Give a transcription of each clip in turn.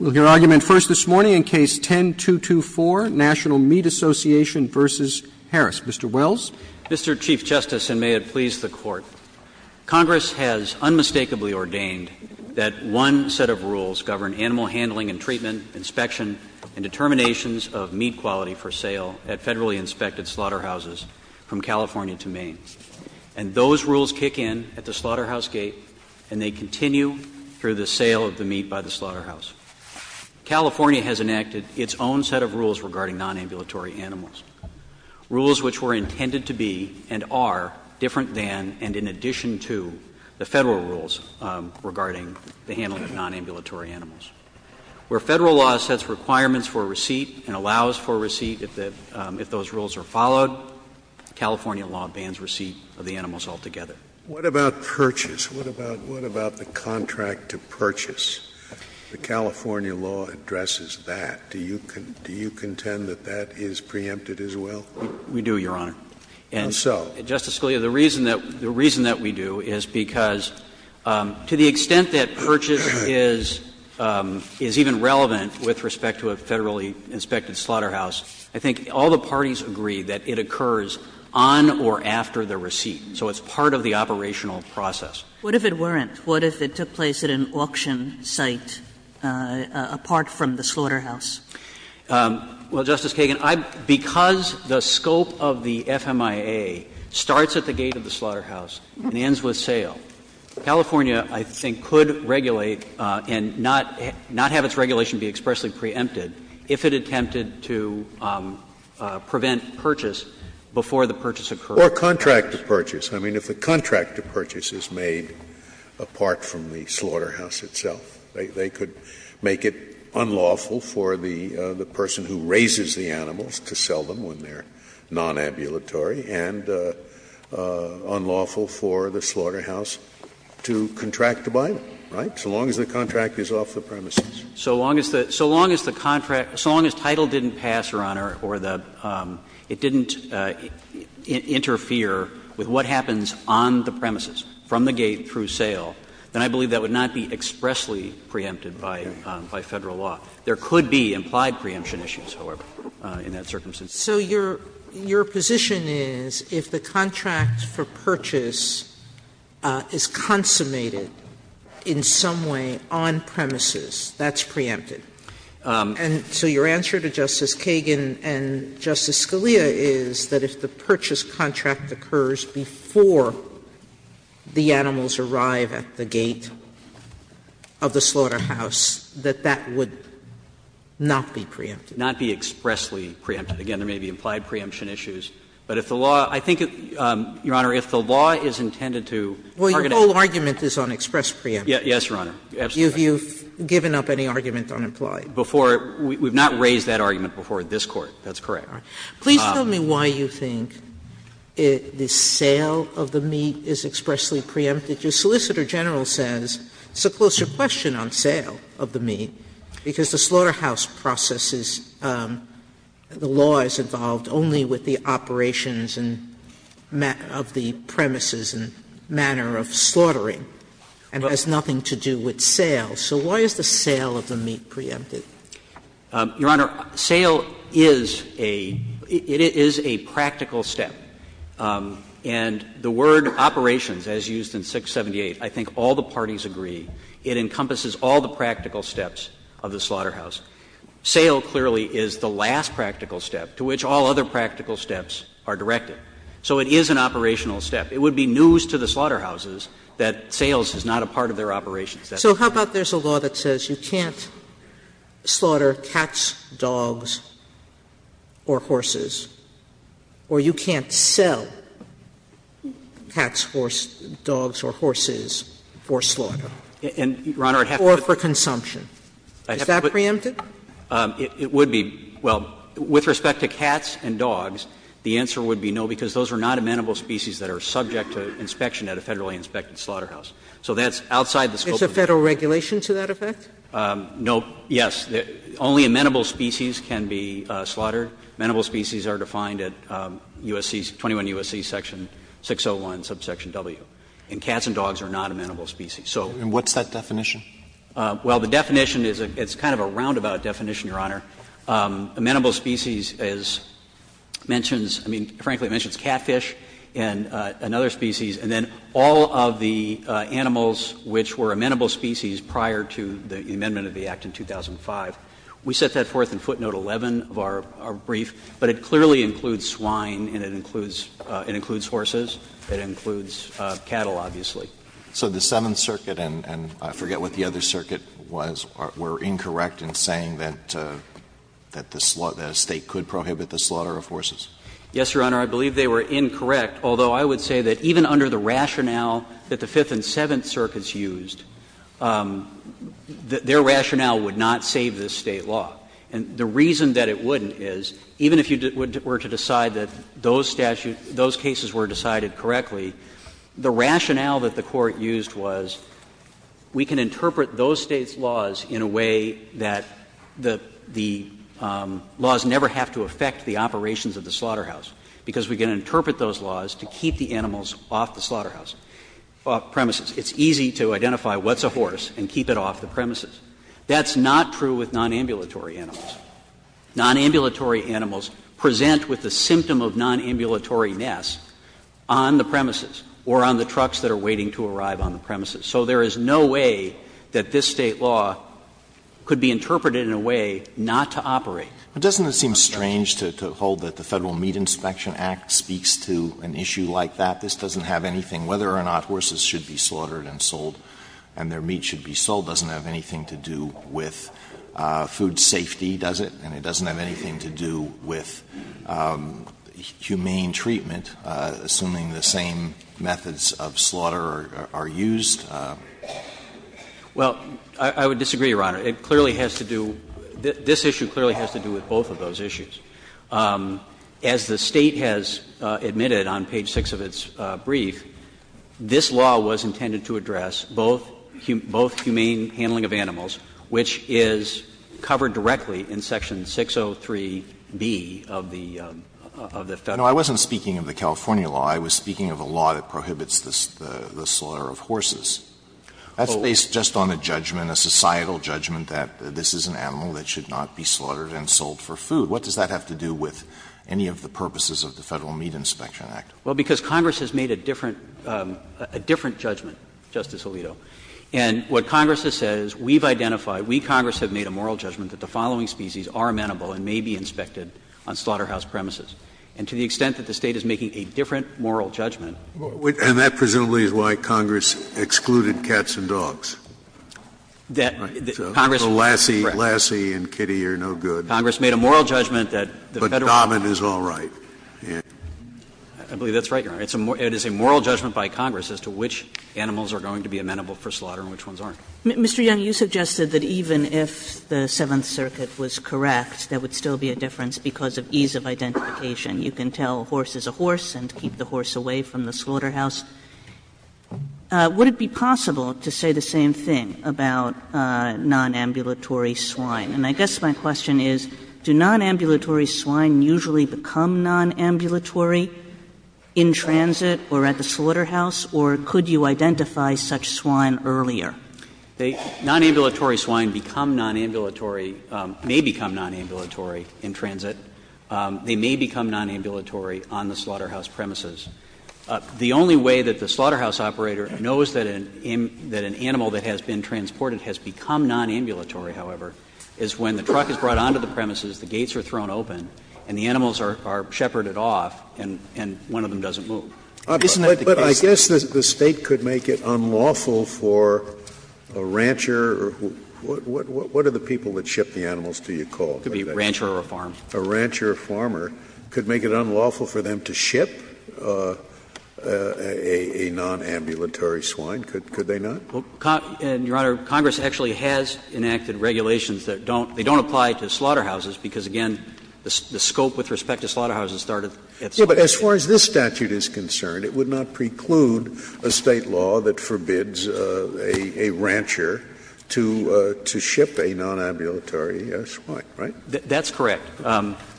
Mr. Wells? Mr. Chief Justice, and may it please the Court, Congress has unmistakably ordained that one set of rules govern animal handling and treatment, inspection, and determinations of meat quality for sale at federally inspected slaughterhouses from California to Maine. And those rules kick in at the slaughterhouse gate, and they continue to be in effect through the sale of the meat by the slaughterhouse. California has enacted its own set of rules regarding nonambulatory animals, rules which were intended to be and are different than and in addition to the Federal rules regarding the handling of nonambulatory animals. Where Federal law sets requirements for receipt and allows for receipt if those rules are followed, California law bans receipt of the animals altogether. Scalia, what about purchase? What about the contract to purchase? The California law addresses that. Do you contend that that is preempted as well? We do, Your Honor. And so? Justice Scalia, the reason that we do is because to the extent that purchase is even relevant with respect to a federally inspected slaughterhouse, I think all the What if it weren't? What if it took place at an auction site apart from the slaughterhouse? Well, Justice Kagan, because the scope of the FMIA starts at the gate of the slaughterhouse and ends with sale, California, I think, could regulate and not have its regulation be expressly preempted if it attempted to prevent purchase before the purchase occurred. Or contract to purchase. I mean, if the contract to purchase is made apart from the slaughterhouse itself, they could make it unlawful for the person who raises the animals to sell them when they're nonambulatory and unlawful for the slaughterhouse to contract to buy them, right, so long as the contract is off the premises? So long as the contract — so long as title didn't pass, Your Honor, or the — it didn't interfere with what happens on the premises, from the gate through sale, then I believe that would not be expressly preempted by Federal law. There could be implied preemption issues, however, in that circumstance. Sotomayor So your position is if the contract for purchase is consummated in some way on premises, that's preempted? And so your answer to Justice Kagan and Justice Scalia is that if the purchase contract occurs before the animals arrive at the gate of the slaughterhouse, that that would not be preempted? Not be expressly preempted. Again, there may be implied preemption issues. But if the law — I think, Your Honor, if the law is intended to target a— Sotomayor Well, your whole argument is on express preemption. Yes, Your Honor, absolutely. Sotomayor Have you given up any argument on implied? Before — we've not raised that argument before this Court, that's correct. Please tell me why you think the sale of the meat is expressly preempted. Your Solicitor General says it's a closer question on sale of the meat, because the slaughterhouse processes, the law is involved only with the operations and of the premises and manner of slaughtering, and has nothing to do with sale. So why is the sale of the meat preempted? Your Honor, sale is a — it is a practical step. And the word operations, as used in 678, I think all the parties agree, it encompasses all the practical steps of the slaughterhouse. Sale clearly is the last practical step to which all other practical steps are directed. So it is an operational step. It would be news to the slaughterhouses that sales is not a part of their operations. Sotomayor So how about there's a law that says you can't slaughter cats, dogs, or horses, or you can't sell cats, horse, dogs, or horses for slaughter or for consumption? Is that preempted? It would be. Well, with respect to cats and dogs, the answer would be no, because those are not amenable species that are subject to inspection at a Federally inspected slaughterhouse. So that's outside the scope of the statute. Sotomayor It's a Federal regulation to that effect? No. Yes. Only amenable species can be slaughtered. Amenable species are defined at USC, 21 USC section 601, subsection W. And cats and dogs are not amenable species. So. And what's that definition? Well, the definition is a — it's kind of a roundabout definition, Your Honor. Amenable species is — mentions — I mean, frankly, it mentions catfish and another species, and then all of the animals which were amenable species prior to the amendment of the Act in 2005. We set that forth in footnote 11 of our brief, but it clearly includes swine and it includes — it includes horses. It includes cattle, obviously. So the Seventh Circuit and I forget what the other circuit was, were incorrect in saying that the State could prohibit the slaughter of horses? Yes, Your Honor. I believe they were incorrect, although I would say that even under the rationale that the Fifth and Seventh Circuits used, their rationale would not save this State law. And the reason that it wouldn't is, even if you were to decide that those statutes — those cases were decided correctly, the rationale that the Court used was we can interpret those States' laws in a way that the laws never have to affect the operations of the slaughterhouse, because we can interpret those laws to keep the animals off the slaughterhouse — off premises. It's easy to identify what's a horse and keep it off the premises. That's not true with nonambulatory animals. Nonambulatory animals present with the symptom of nonambulatory nests on the premises or on the trucks that are waiting to arrive on the premises. So there is no way that this State law could be interpreted in a way not to operate on the premises. Alitozzi, but doesn't it seem strange to hold that the Federal Meat Inspection Act speaks to an issue like that? This doesn't have anything whether or not horses should be slaughtered and sold and their meat should be sold. It doesn't have anything to do with food safety, does it? And it doesn't have anything to do with humane treatment, assuming the same methods Well, I would disagree, Your Honor. It clearly has to do — this issue clearly has to do with both of those issues. As the State has admitted on page 6 of its brief, this law was intended to address both humane handling of animals, which is covered directly in section 603B of the Federal law. No, I wasn't speaking of the California law. I was speaking of a law that prohibits the slaughter of horses. That's based just on a judgment, a societal judgment that this is an animal that should not be slaughtered and sold for food. What does that have to do with any of the purposes of the Federal Meat Inspection Act? Well, because Congress has made a different — a different judgment, Justice Alito. And what Congress has said is we've identified, we, Congress, have made a moral judgment that the following species are amenable and may be inspected on slaughterhouse premises. And to the extent that the State is making a different moral judgment — And that, presumably, is why Congress excluded cats and dogs. That Congress — Lassie and kitty are no good. Congress made a moral judgment that the Federal law — But Dobbin is all right. I believe that's right, Your Honor. It is a moral judgment by Congress as to which animals are going to be amenable for slaughter and which ones aren't. Mr. Young, you suggested that even if the Seventh Circuit was correct, there would still be a difference because of ease of identification. You can tell a horse is a horse and keep the horse away from the slaughterhouse. Would it be possible to say the same thing about nonambulatory swine? And I guess my question is, do nonambulatory swine usually become nonambulatory in transit or at the slaughterhouse, or could you identify such swine earlier? Nonambulatory swine become nonambulatory — may become nonambulatory in transit. They may become nonambulatory on the slaughterhouse premises. The only way that the slaughterhouse operator knows that an animal that has been transported has become nonambulatory, however, is when the truck is brought onto the premises, the gates are thrown open, and the animals are shepherded off, and one of them doesn't move. Isn't that the case? But I guess the State could make it unlawful for a rancher or what are the people that ship the animals, do you call it? Could be a rancher or a farm. A rancher or a farmer could make it unlawful for them to ship a nonambulatory swine, could they not? Well, Your Honor, Congress actually has enacted regulations that don't — they don't apply to slaughterhouses because, again, the scope with respect to slaughterhouses started at slaughterhouses. Yes, but as far as this statute is concerned, it would not preclude a State law that forbids a rancher to ship a nonambulatory swine, right? That's correct.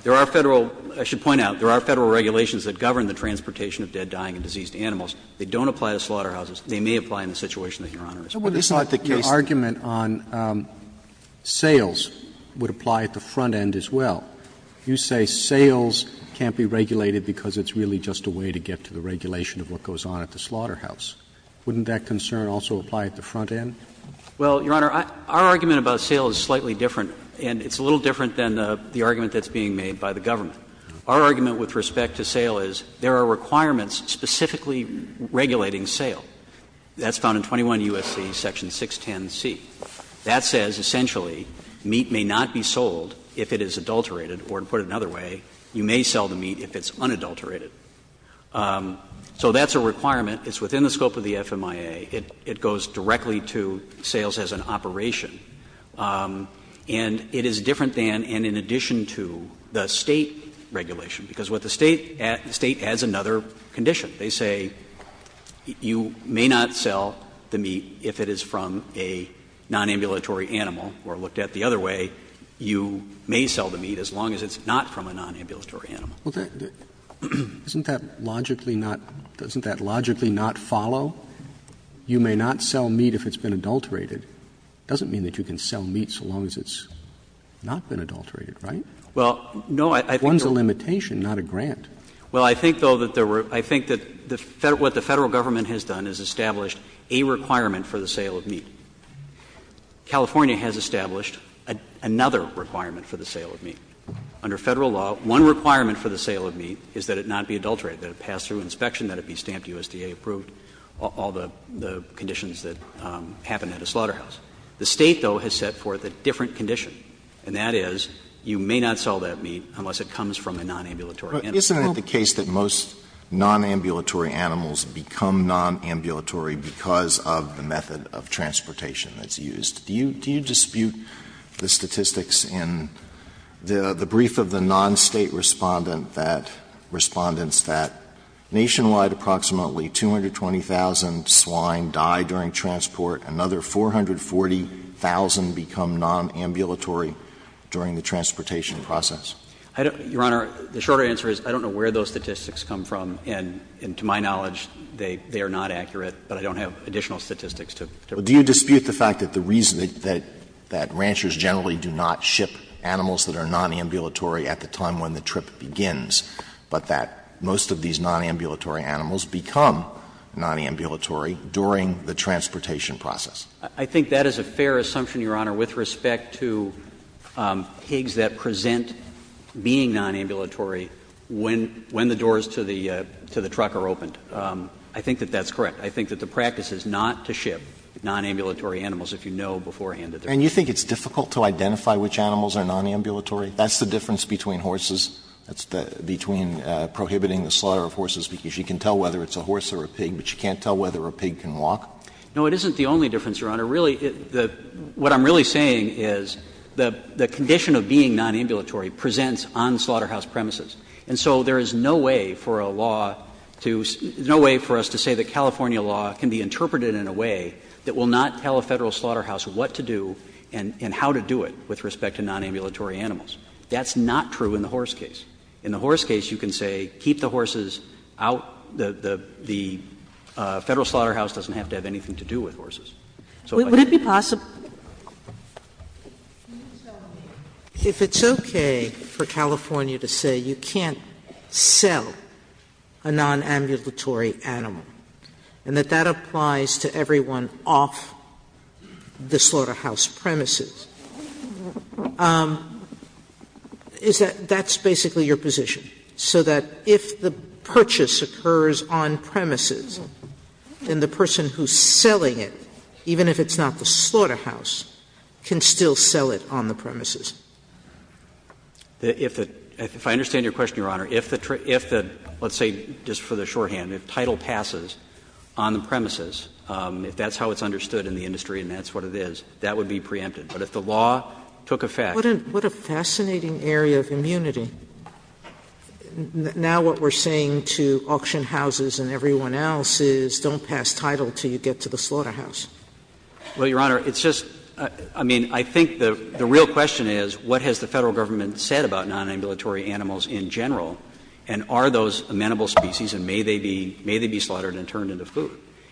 There are Federal — I should point out, there are Federal regulations that govern the transportation of dead, dying, and diseased animals. They don't apply to slaughterhouses. They may apply in the situation that Your Honor is presenting. But it's not the case that the argument on sales would apply at the front end as well. You say sales can't be regulated because it's really just a way to get to the regulation of what goes on at the slaughterhouse. Wouldn't that concern also apply at the front end? Well, Your Honor, our argument about sales is slightly different, and it's a little different than the argument that's being made by the government. Our argument with respect to sale is there are requirements specifically regulating sale. That's found in 21 U.S.C. section 610C. That says, essentially, meat may not be sold if it is adulterated, or to put it another way, you may sell the meat if it's unadulterated. So that's a requirement. It's within the scope of the FMIA. It goes directly to sales as an operation. And it is different than and in addition to the State regulation, because what the State adds, the State adds another condition. They say you may not sell the meat if it is from a nonambulatory animal, or looked at the other way, you may sell the meat as long as it's not from a nonambulatory animal. Isn't that logically not doesn't that logically not follow? You may not sell meat if it's been adulterated. It doesn't mean that you can sell meat so long as it's not been adulterated, right? Well, no, I think there was a limitation, not a grant. Well, I think, though, that there were – I think that what the Federal government has done is established a requirement for the sale of meat. California has established another requirement for the sale of meat. Under Federal law, one requirement for the sale of meat is that it not be adulterated, that it pass through inspection, that it be stamped USDA-approved. All the conditions that happen at a slaughterhouse. The State, though, has set forth a different condition, and that is you may not sell that meat unless it comes from a nonambulatory animal. Alito, isn't it the case that most nonambulatory animals become nonambulatory because of the method of transportation that's used? Do you dispute the statistics in the brief of the non-State Respondent that Respondents that nationwide approximately 220,000 swine die during transport, another 440,000 become nonambulatory during the transportation process? Your Honor, the shorter answer is I don't know where those statistics come from, and to my knowledge, they are not accurate, but I don't have additional statistics to repeat. Do you dispute the fact that the reason that ranchers generally do not ship animals that are nonambulatory at the time when the trip begins, but that most of these nonambulatory animals become nonambulatory during the transportation process? I think that is a fair assumption, Your Honor, with respect to pigs that present being nonambulatory when the doors to the truck are opened. I think that that's correct. I think that the practice is not to ship nonambulatory animals if you know beforehand that they're not. And you think it's difficult to identify which animals are nonambulatory? That's the difference between horses, between prohibiting the slaughter of horses because you can tell whether it's a horse or a pig, but you can't tell whether a pig can walk? No, it isn't the only difference, Your Honor. Really, what I'm really saying is the condition of being nonambulatory presents on slaughterhouse premises, and so there is no way for a law to – no way for us to say that California law can be interpreted in a way that will not tell a Federal slaughterhouse what to do and how to do it with respect to nonambulatory animals. That's not true in the horse case. In the horse case, you can say keep the horses out. The Federal slaughterhouse doesn't have to have anything to do with horses. So if I could just say that. Would it be possible – if it's okay for California to say you can't sell a nonambulatory animal, and that that applies to everyone off the slaughterhouse premises, is that – that's basically your position, so that if the purchase occurs on premises, then the person who's selling it, even if it's not the slaughterhouse, can still sell it on the premises? If the – if I understand your question, Your Honor, if the – if the – let's say, just for the shorthand, if title passes on the premises, if that's how it's understood in the industry and that's what it is, that would be preempted. But if the law took effect – Sotomayor, what a fascinating area of immunity. Now what we're saying to auction houses and everyone else is don't pass title until you get to the slaughterhouse. Well, Your Honor, it's just – I mean, I think the real question is what has the Federal Government said about nonambulatory animals in general, and are those amenable species, and may they be – may they be slaughtered and turned into food?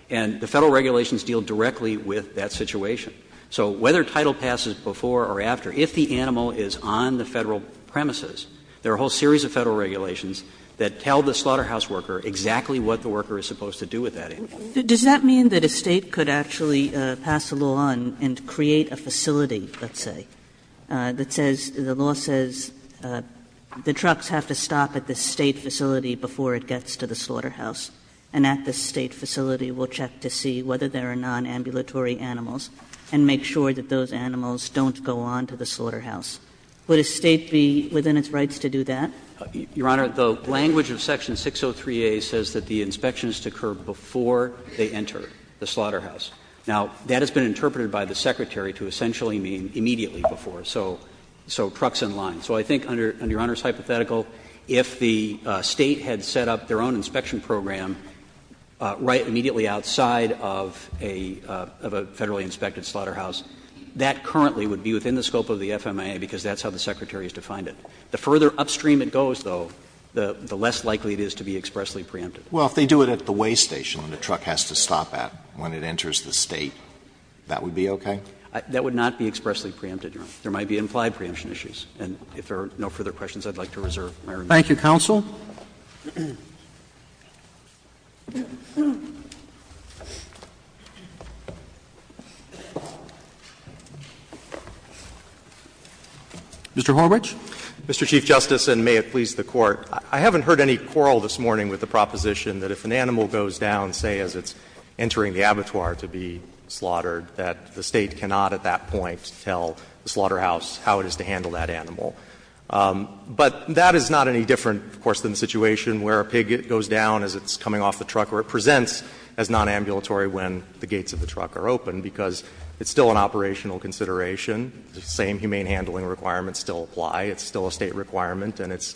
And the Federal regulations deal directly with that situation. So whether title passes before or after, if the animal is on the Federal premises, there are a whole series of Federal regulations that tell the slaughterhouse worker exactly what the worker is supposed to do with that animal. Kagan. Kagan. Does that mean that a State could actually pass a law and create a facility, let's say, that says – the law says the trucks have to stop at the State facility before it gets to the slaughterhouse, and at the State facility we'll check to see whether there are nonambulatory animals and make sure that those animals don't go on to the slaughterhouse. Would a State be within its rights to do that? Your Honor, the language of section 603a says that the inspection is to occur before they enter the slaughterhouse. Now, that has been interpreted by the Secretary to essentially mean immediately before, so – so trucks in line. So I think, under Your Honor's hypothetical, if the State had set up their own inspection program right immediately outside of a – of a Federally inspected slaughterhouse, that currently would be within the scope of the FMIA, because that's how the Secretary has defined it. The further upstream it goes, though, the less likely it is to be expressly preempted. Alito, if they do it at the weigh station and the truck has to stop at when it enters the State, that would be okay? That would not be expressly preempted, Your Honor. There might be implied preemption issues. And if there are no further questions, I'd like to reserve my remission. Thank you, counsel. Mr. Horwich. Mr. Chief Justice, and may it please the Court, I haven't heard any quarrel this morning with the proposition that if an animal goes down, say, as it's entering the abattoir to be slaughtered, that the State cannot at that point tell the slaughterhouse how it is to handle that animal. But that is not any different, of course, than the situation where a pig goes down as it's coming off the truck or it presents as nonambulatory when the gates of the truck are open, because it's still an operational consideration. The same humane handling requirements still apply. It's still a State requirement and it's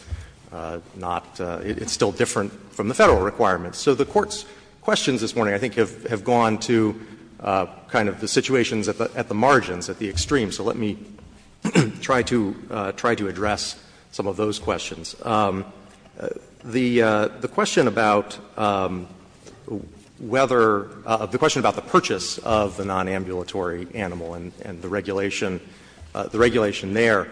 not – it's still different from the Federal requirements. So the Court's questions this morning I think have gone to kind of the situations at the margins, at the extremes. So let me try to address some of those questions. The question about whether – the question about the purchase of the nonambulatory animal and the regulation there,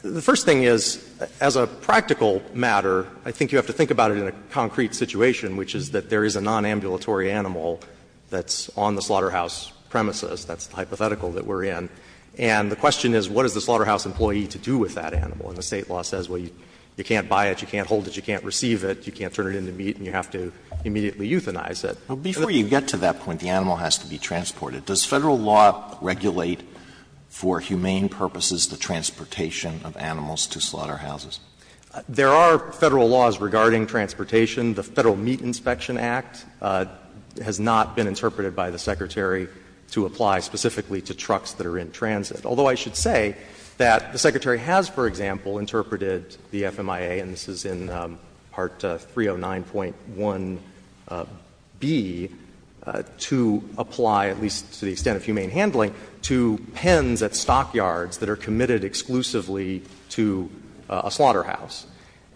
the first thing is, as a practical matter, I think you have to think about it in a concrete situation, which is that there is a nonambulatory animal that's on the slaughterhouse premises. That's the hypothetical that we're in. And the question is, what is the slaughterhouse employee to do with that animal? And the State law says, well, you can't buy it, you can't hold it, you can't receive it, you can't turn it into meat and you have to immediately euthanize it. Alitoso, before you get to that point, the animal has to be transported. Does Federal law regulate for humane purposes the transportation of animals to slaughterhouses? There are Federal laws regarding transportation. The Federal Meat Inspection Act has not been interpreted by the Secretary to apply specifically to trucks that are in transit. Although I should say that the Secretary has, for example, interpreted the FMIA, and this is in Part 309.1b, to apply, at least to the extent of humane handling, to pens at stockyards that are committed exclusively to a slaughterhouse.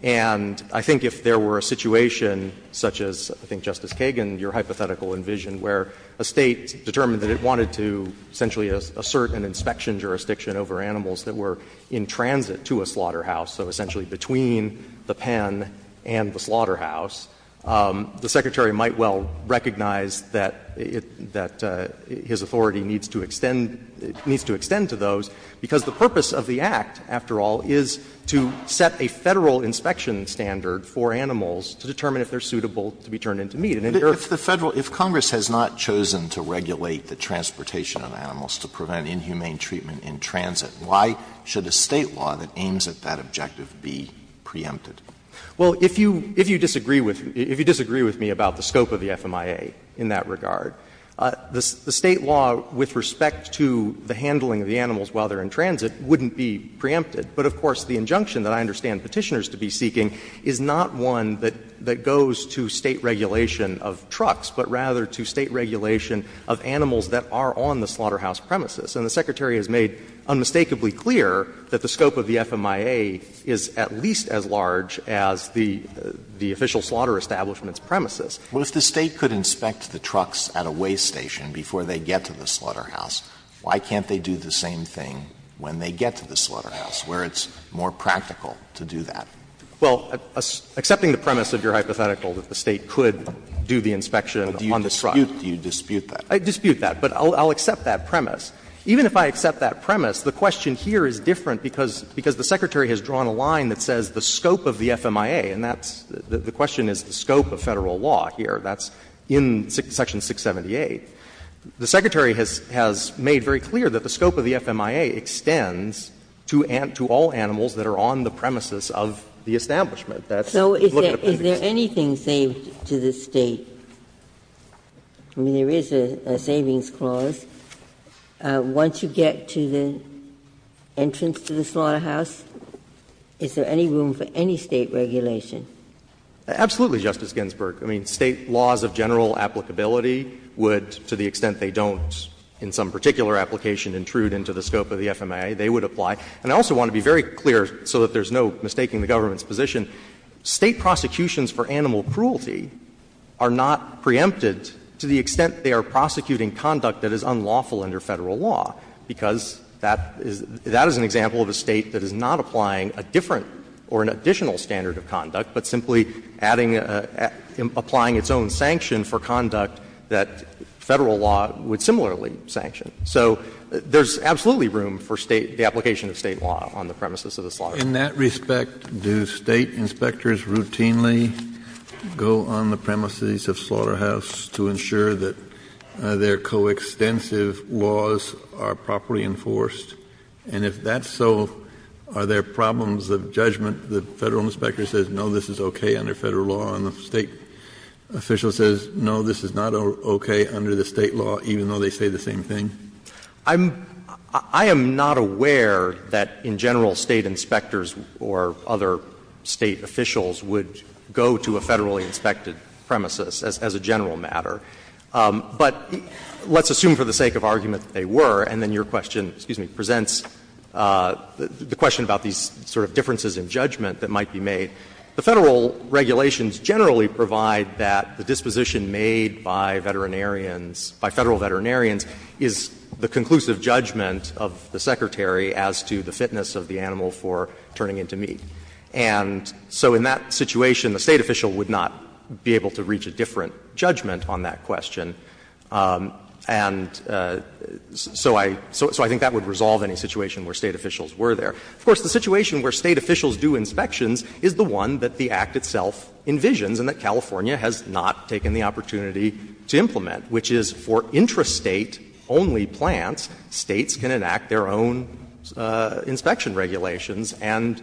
And I think if there were a situation such as, I think, Justice Kagan, your hypothetical envisioned, where a State determined that it wanted to essentially assert an inspection jurisdiction over animals that were in transit to a slaughterhouse, so essentially between the pen and the slaughterhouse, the Secretary might well recognize that it needs to extend to those, because the purpose of the Act, after all, is to set a Federal inspection standard for animals to determine if they are suitable to be turned into meat. And if the Federal — if Congress has not chosen to regulate the transportation of animals to prevent inhumane treatment in transit, why should a State law that aims at that objective be preempted? Well, if you disagree with me about the scope of the FMIA in that regard, the State law with respect to the handling of the animals while they are in transit wouldn't be preempted. But, of course, the injunction that I understand Petitioners to be seeking is not one that goes to State regulation of trucks, but rather to State regulation of animals that are on the slaughterhouse premises. And the Secretary has made unmistakably clear that the scope of the FMIA is at least as large as the official slaughter establishment's premises. Alitoso, if the State could inspect the trucks at a waste station before they get to the slaughterhouse, why can't they do the same thing when they get to the slaughterhouse, where it's more practical to do that? Well, accepting the premise of your hypothetical that the State could do the inspection on the truck. But do you dispute that? I dispute that, but I'll accept that premise. Even if I accept that premise, the question here is different because the Secretary has drawn a line that says the scope of the FMIA, and that's — the question is the scope of Federal law here. That's in section 678. The Secretary has made very clear that the scope of the FMIA extends to all animals that are on the premises of the establishment. That's what the appendix is. Ginsburg. So is there anything saved to the State? I mean, there is a savings clause. Once you get to the entrance to the slaughterhouse, is there any room for any State regulation? Absolutely, Justice Ginsburg. I mean, State laws of general applicability would, to the extent they don't in some particular application intrude into the scope of the FMIA, they would apply. And I also want to be very clear, so that there's no mistaking the government's position, State prosecutions for animal cruelty are not preempted to the extent they are prosecuting conduct that is unlawful under Federal law, because that is — that is an example of a State that is not applying a different or an additional standard of conduct, but simply adding — applying its own sanction for conduct that Federal law would similarly sanction. So there's absolutely room for State — the application of State law on the premises of the slaughterhouse. Kennedy, in that respect, do State inspectors routinely go on the premises of slaughterhouse to ensure that their coextensive laws are properly enforced? And if that's so, are there problems of judgment, the Federal inspector says, no, this is okay under Federal law, and the State official says, no, this is not okay under the State law, even though they say the same thing? I'm — I am not aware that, in general, State inspectors or other State officials would go to a Federally inspected premises as a general matter. But let's assume for the sake of argument that they were, and then your question presents the question about these sort of differences in judgment that might be made. The Federal regulations generally provide that the disposition made by veterinarians — by Federal veterinarians is the conclusive judgment of the Secretary as to the fitness of the animal for turning into meat. And so in that situation, the State official would not be able to reach a different judgment on that question. And so I — so I think that would resolve any situation where State officials were there. Of course, the situation where State officials do inspections is the one that the Act itself envisions and that California has not taken the opportunity to implement, which is for intrastate-only plants, States can enact their own inspection regulations and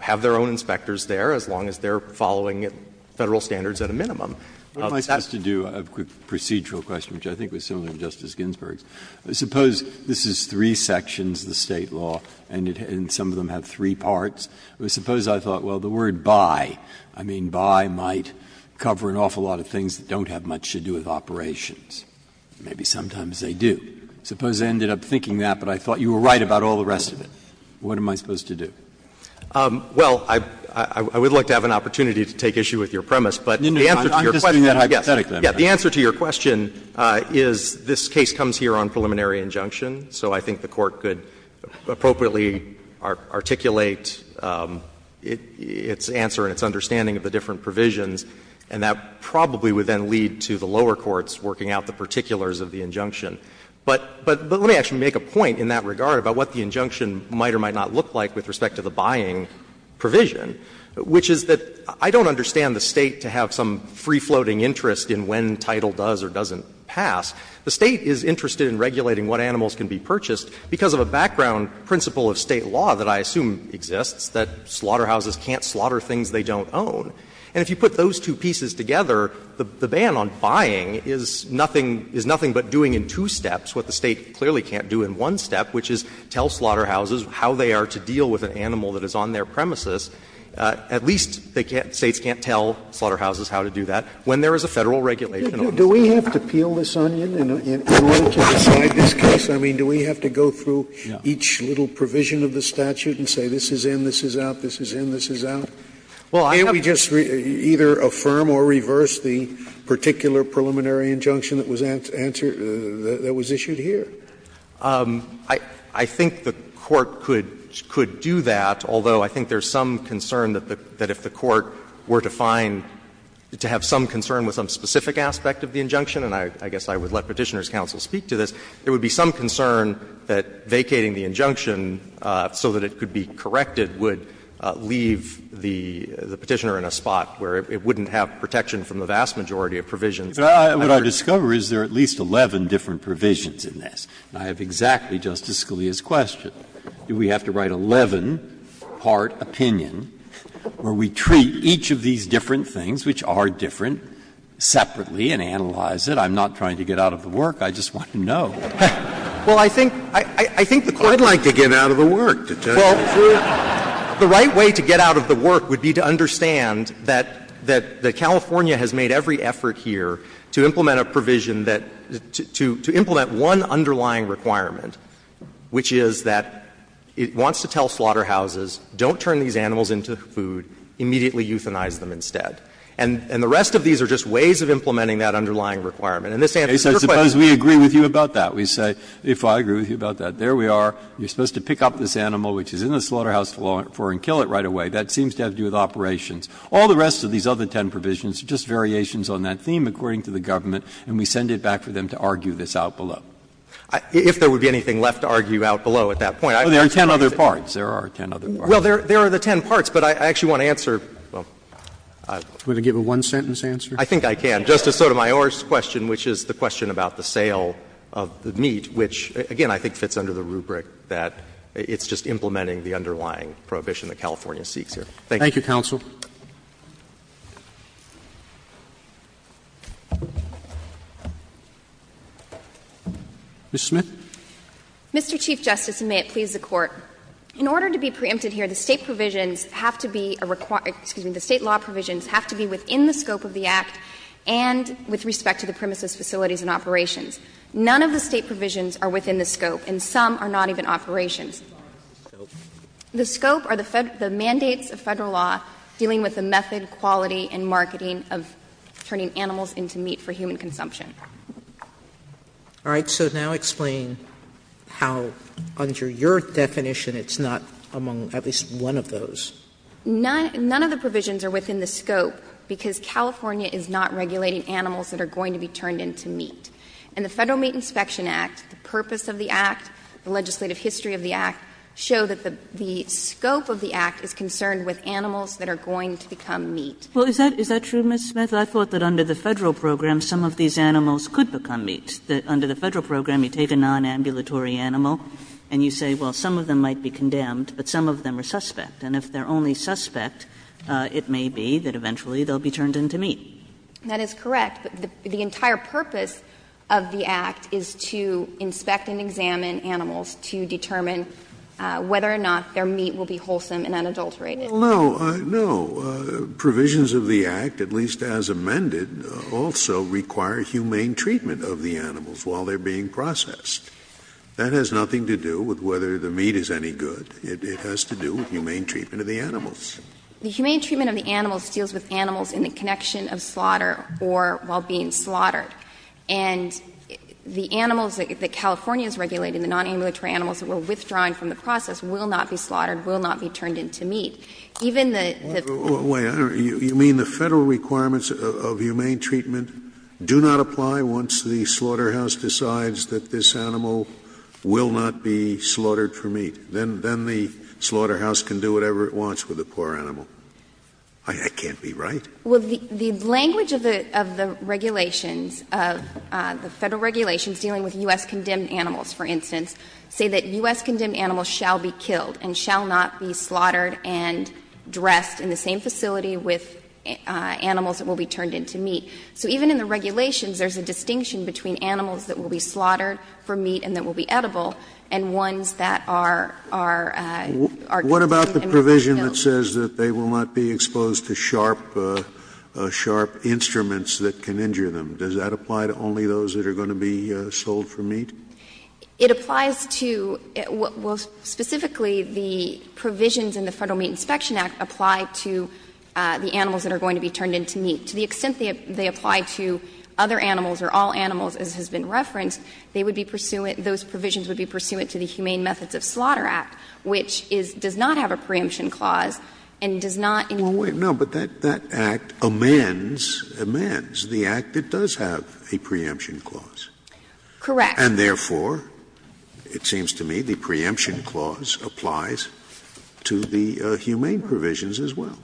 have their own inspectors there as long as they're following Federal standards at a minimum. Breyer. What am I supposed to do? A quick procedural question, which I think was similar to Justice Ginsburg's. Suppose this is three sections of the State law and some of them have three parts. Suppose I thought, well, the word by, I mean by might cover an awful lot of things that don't have much to do with operations. Maybe sometimes they do. Suppose I ended up thinking that, but I thought you were right about all the rest of it. What am I supposed to do? Well, I would like to have an opportunity to take issue with your premise, but the answer to your question is this case comes here on preliminary injunction, so I think the Court could appropriately articulate its answer and its understanding of the different provisions, and that probably would then lead to the lower courts working out the particulars of the injunction. But let me actually make a point in that regard about what the injunction might or might not look like with respect to the buying provision, which is that I don't understand the State to have some free-floating interest in when title does or doesn't pass. The State is interested in regulating what animals can be purchased because of a background principle of State law that I assume exists, that slaughterhouses can't slaughter things they don't own. And if you put those two pieces together, the ban on buying is nothing but doing in two steps what the State clearly can't do in one step, which is tell slaughterhouses how they are to deal with an animal that is on their premises. At least the States can't tell slaughterhouses how to do that when there is a Federal regulation on it. Scalia Do we have to peel this onion in order to decide this case? I mean, do we have to go through each little provision of the statute and say this is in, this is out, this is in, this is out? Can't we just either affirm or reverse the particular preliminary injunction that was answered or that was issued here? I think the Court could do that, although I think there is some concern that if the Court were to find, to have some concern with some specific aspect of the injunction and I guess I would let Petitioner's counsel speak to this, there would be some concern that vacating the injunction so that it could be corrected would leave the Petitioner in a spot where it wouldn't have protection from the vast majority of provisions. Breyer What I discover is there are at least 11 different provisions in this. I have exactly Justice Scalia's question. Do we have to write 11-part opinion where we treat each of these different things, which are different, separately and analyze it? I'm not trying to get out of the work. I just want to know. The right way to get out of the work would be to understand that California has made every effort here to implement a provision that, to implement one underlying requirement, which is that it wants to tell slaughterhouses, don't turn these animals into food, immediately euthanize them instead. And the rest of these are just ways of implementing that underlying requirement. And this answers your question. Breyer Suppose we agree with you about that. We say, if I agree with you about that, there we are, you're supposed to pick up this slaughterhouse floor and kill it right away. That seems to have to do with operations. All the rest of these other ten provisions are just variations on that theme, according to the government, and we send it back for them to argue this out below. If there would be anything left to argue out below at that point, I would say that it's not. Roberts Well, there are the ten parts, but I actually want to answer, well, I want to give a one-sentence answer. I think I can. Justice Sotomayor's question, which is the question about the sale of the meat, which, again, I think fits under the rubric that it's just implementing the underlying prohibition that California seeks here. Thank you. Roberts Thank you, counsel. Ms. Smith. Smith Mr. Chief Justice, and may it please the Court, in order to be preempted here, the State provisions have to be a required – excuse me, the State law provisions have to be within the scope of the Act and with respect to the premises, facilities, and operations. None of the State provisions are within the scope, and some are not even operations. The scope are the mandates of Federal law dealing with the method, quality, and marketing of turning animals into meat for human consumption. Sotomayor All right. So now explain how, under your definition, it's not among at least one of those. Smith None of the provisions are within the scope because California is not regulating animals that are going to be turned into meat. And the Federal Meat Inspection Act, the purpose of the Act, the legislative history of the Act, show that the scope of the Act is concerned with animals that are going to become meat. Kagan Well, is that true, Ms. Smith? I thought that under the Federal program, some of these animals could become meat. Under the Federal program, you take a nonambulatory animal and you say, well, some of them might be condemned, but some of them are suspect. And if they're only suspect, it may be that eventually they'll be turned into meat. Smith That is correct. But the entire purpose of the Act is to inspect and examine animals to determine whether or not their meat will be wholesome and unadulterated. Scalia No. No. Provisions of the Act, at least as amended, also require humane treatment of the animals while they're being processed. That has nothing to do with whether the meat is any good. It has to do with humane treatment of the animals. Smith The humane treatment of the animals deals with animals in the connection of slaughter or while being slaughtered. And the animals that California is regulating, the nonambulatory animals that we're withdrawing from the process, will not be slaughtered, will not be turned into meat. Even the the Federal requirements of humane treatment do not apply once the slaughterhouse decides that this animal will not be slaughtered for meat. Then the slaughterhouse can do whatever it wants with a poor animal. I can't be right. Well, the language of the regulations, of the Federal regulations dealing with U.S. condemned animals, for instance, say that U.S. condemned animals shall be killed and shall not be slaughtered and dressed in the same facility with animals that will be turned into meat. So even in the regulations, there's a distinction between animals that will be slaughtered for meat and that will be edible and ones that are, are, are sharp, sharp instruments that can injure them. Does that apply to only those that are going to be sold for meat? It applies to, well, specifically, the provisions in the Federal Meat Inspection Act apply to the animals that are going to be turned into meat. To the extent they apply to other animals or all animals, as has been referenced, they would be pursuant, those provisions would be pursuant to the Humane Methods of Slaughter Act, which is, does not have a preemption clause and does not include slaughter. No, but that, that act amends, amends the act that does have a preemption clause. Correct. And therefore, it seems to me, the preemption clause applies to the humane provisions as well.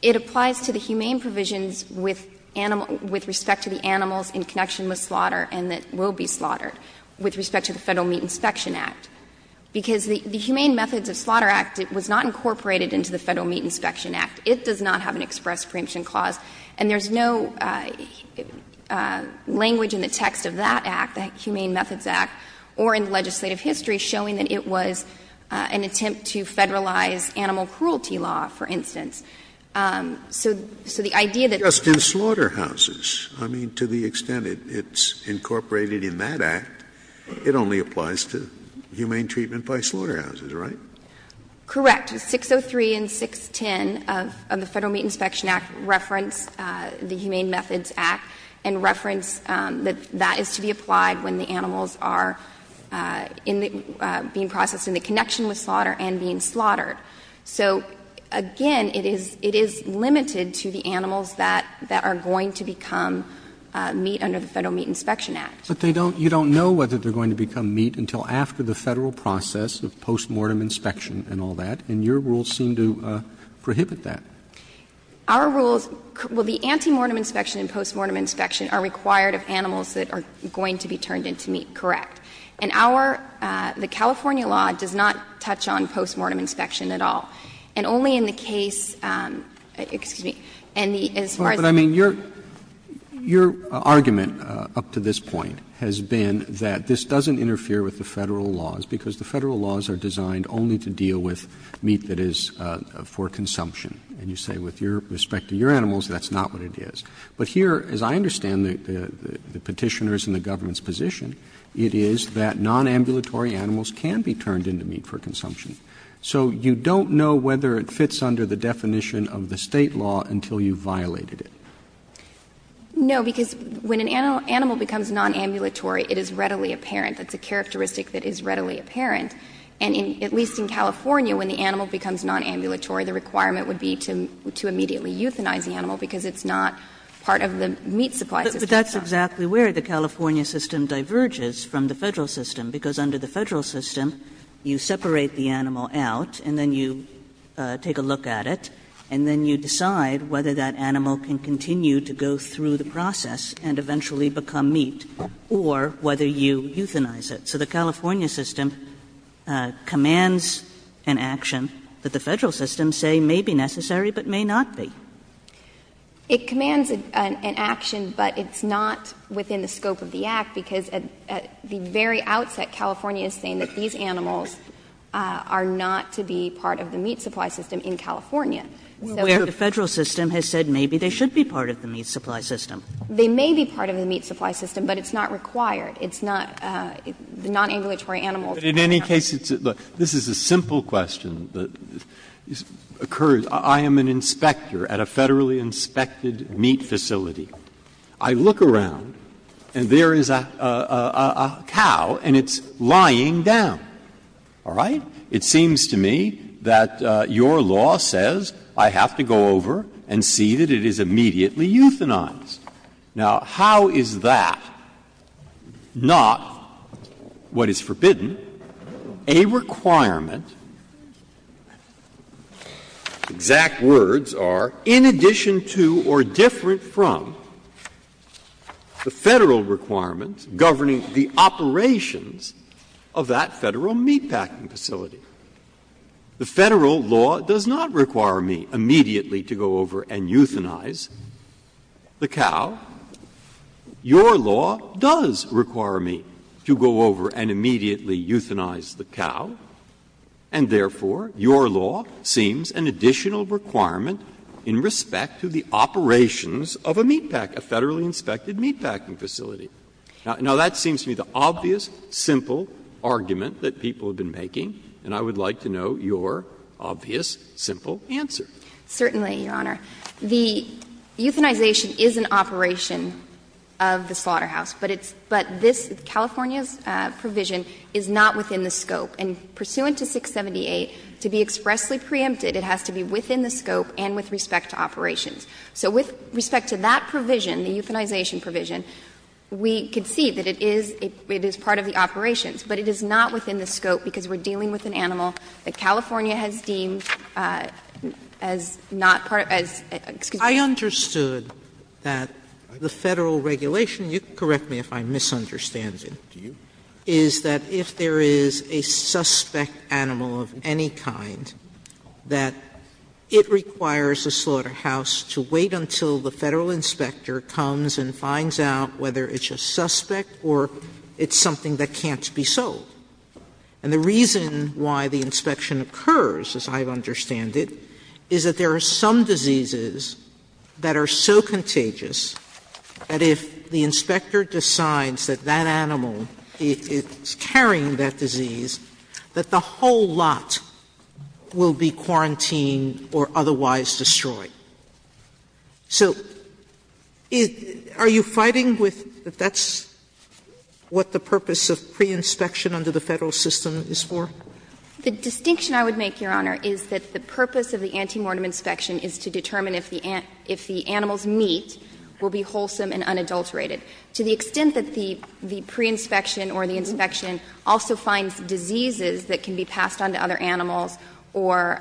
It applies to the humane provisions with animal, with respect to the animals in connection with slaughter and that will be slaughtered with respect to the Federal Meat Inspection Act, because the Humane Methods of Slaughter Act, it was not incorporated into the Federal Meat Inspection Act. It does not have an express preemption clause. And there's no language in the text of that act, the Humane Methods Act, or in legislative history showing that it was an attempt to federalize animal cruelty law, for instance. So, so the idea that the act is incorporated in that act, it only applies to humane treatment by slaughterhouses, right? Correct. Act 603 and 610 of the Federal Meat Inspection Act reference the Humane Methods Act and reference that that is to be applied when the animals are in the, being processed in the connection with slaughter and being slaughtered. So, again, it is, it is limited to the animals that, that are going to become meat under the Federal Meat Inspection Act. But they don't, you don't know whether they're going to become meat until after the And your rules seem to prohibit that. Our rules, well, the antemortem inspection and postmortem inspection are required of animals that are going to be turned into meat, correct. And our, the California law does not touch on postmortem inspection at all. And only in the case, excuse me, and the, as far as the But I mean, your, your argument up to this point has been that this doesn't interfere with the Federal laws, because the Federal laws are designed only to deal with meat that is for consumption. And you say with your, with respect to your animals, that's not what it is. But here, as I understand the, the Petitioner's and the government's position, it is that nonambulatory animals can be turned into meat for consumption. So you don't know whether it fits under the definition of the State law until you've violated it. No, because when an animal, animal becomes nonambulatory, it is readily apparent. That's a characteristic that is readily apparent. And in, at least in California, when the animal becomes nonambulatory, the requirement would be to, to immediately euthanize the animal, because it's not Kagan. Kagan. Kagan. But that's exactly where the California system diverges from the Federal system, because under the Federal system, you separate the animal out and then you take a look at it, and then you decide whether that animal can continue to go through the process and eventually become meat, or whether you euthanize it. So the California system commands an action that the Federal system say may be necessary, but may not be. It commands an action, but it's not within the scope of the Act, because at the very outset, California is saying that these animals are not to be part of the meat supply system in California. So the Federal system has said maybe they should be part of the meat supply system. They may be part of the meat supply system, but it's not required. It's not, the nonambulatory animals. Breyer. But in any case, this is a simple question that occurs. I am an inspector at a Federally inspected meat facility. I look around and there is a cow and it's lying down, all right? It seems to me that your law says I have to go over and see that it is immediately euthanized. Now, how is that not what is forbidden, a requirement, exact words are, in addition to or different from the Federal requirement governing the operations of that Federal meatpacking facility? The Federal law does not require me immediately to go over and euthanize the cow. Your law does require me to go over and immediately euthanize the cow, and therefore, your law seems an additional requirement in respect to the operations of a meatpack, a Federally inspected meatpacking facility. Now, that seems to me the obvious, simple argument that people have been making, and I would like to know your obvious, simple answer. Certainly, Your Honor. The euthanization is an operation of the slaughterhouse, but it's — but this, California's provision is not within the scope. And pursuant to 678, to be expressly preempted, it has to be within the scope and with respect to operations. So with respect to that provision, the euthanization provision, we can see that it is part of the operations, but it is not within the scope because we're dealing with an animal that California has deemed as not part of — as — excuse me. Sotomayor, I understood that the Federal regulation — you can correct me if I'm misunderstanding — is that if there is a suspect animal of any kind, that it requires the slaughterhouse to wait until the Federal inspector comes and finds out whether it's a suspect or it's something that can't be sold. And the reason why the inspection occurs, as I understand it, is that there are some diseases that are so contagious that if the inspector decides that that animal is carrying that disease, that the whole lot will be quarantined or otherwise destroyed. So are you fighting with — that that's what the purpose of pre-inspection under the Federal system is for? The distinction I would make, Your Honor, is that the purpose of the antemortem inspection is to determine if the animals' meat will be wholesome and unadulterated. To the extent that the pre-inspection or the inspection also finds diseases that can be passed on to other animals or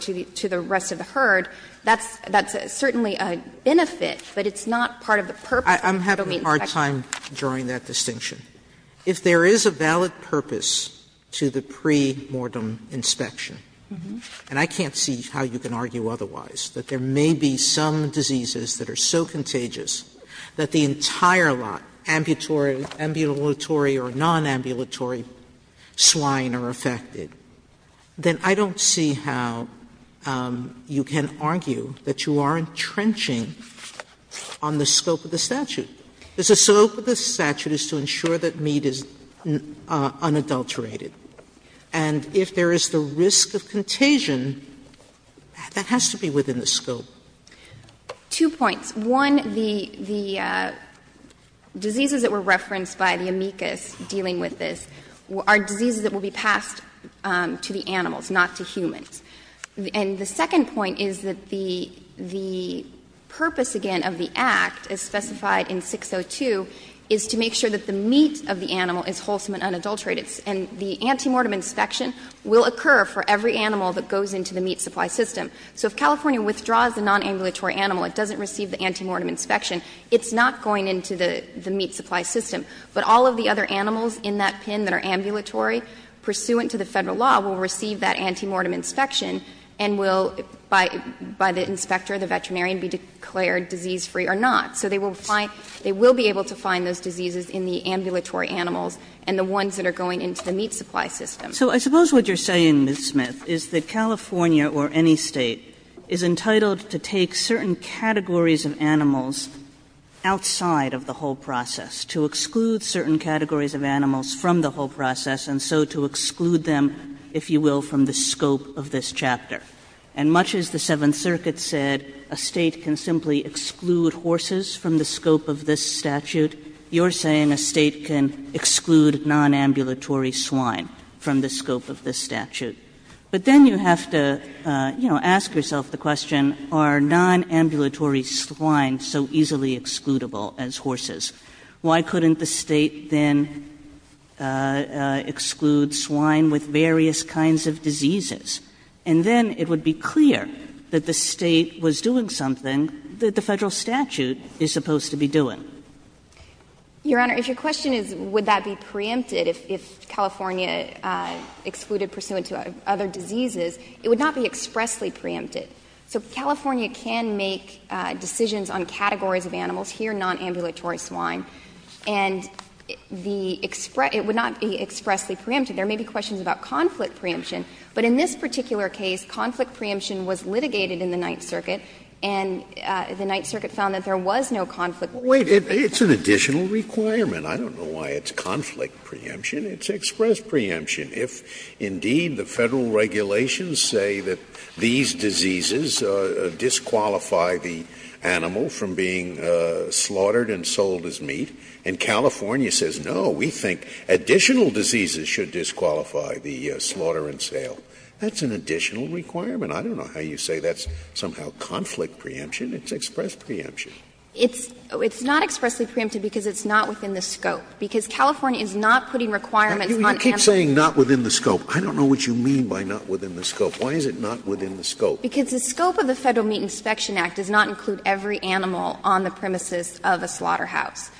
to the rest of the herd, that's certainly a benefit, but it's not part of the purpose of the Federal inspection. Sotomayor, I'm having a hard time drawing that distinction. If there is a valid purpose to the pre-mortem inspection, and I can't see how you can argue otherwise, that there may be some diseases that are so contagious that the entire lot, ambulatory or nonambulatory swine or aphrodisiac swine, that are infected, then I don't see how you can argue that you are entrenching on the scope of the statute. Because the scope of the statute is to ensure that meat is unadulterated. And if there is the risk of contagion, that has to be within the scope. Two points. One, the diseases that were referenced by the amicus dealing with this are diseases that will be passed to the animals, not to humans. And the second point is that the purpose, again, of the Act, as specified in 602, is to make sure that the meat of the animal is wholesome and unadulterated. And the anti-mortem inspection will occur for every animal that goes into the meat supply system. So if California withdraws a nonambulatory animal, it doesn't receive the anti-mortem inspection, it's not going into the meat supply system. But all of the other animals in that pin that are ambulatory, pursuant to the Federal law, will receive that anti-mortem inspection and will, by the inspector, the veterinarian, be declared disease-free or not. So they will find they will be able to find those diseases in the ambulatory animals and the ones that are going into the meat supply system. Kagan. So I suppose what you're saying, Ms. Smith, is that California or any State is entitled to take certain categories of animals outside of the whole process, to exclude certain categories of animals from the whole process, and so to exclude them, if you will, from the scope of this chapter. And much as the Seventh Circuit said a State can simply exclude horses from the scope of this statute, you're saying a State can exclude nonambulatory swine from the scope of this statute. But then you have to, you know, ask yourself the question, are nonambulatory swine so easily excludable as horses? Why couldn't the State then exclude swine with various kinds of diseases? And then it would be clear that the State was doing something that the Federal statute is supposed to be doing. Your Honor, if your question is would that be preempted if California excluded nonambulatory swine pursuant to other diseases, it would not be expressly preempted. So California can make decisions on categories of animals, here nonambulatory swine, and the express – it would not be expressly preempted. There may be questions about conflict preemption, but in this particular case, conflict preemption was litigated in the Ninth Circuit, and the Ninth Circuit found that there was no conflict preemption. Scalia, It's an additional requirement. I don't know why it's conflict preemption. It's express preemption. If, indeed, the Federal regulations say that these diseases disqualify the animal from being slaughtered and sold as meat, and California says, no, we think additional diseases should disqualify the slaughter and sale, that's an additional requirement. I don't know how you say that's somehow conflict preemption. It's express preemption. It's not expressly preempted because it's not within the scope. Because California is not putting requirements on animals. Scalia, You keep saying not within the scope. I don't know what you mean by not within the scope. Why is it not within the scope? Because the scope of the Federal Meat Inspection Act does not include every animal on the premises of a slaughterhouse.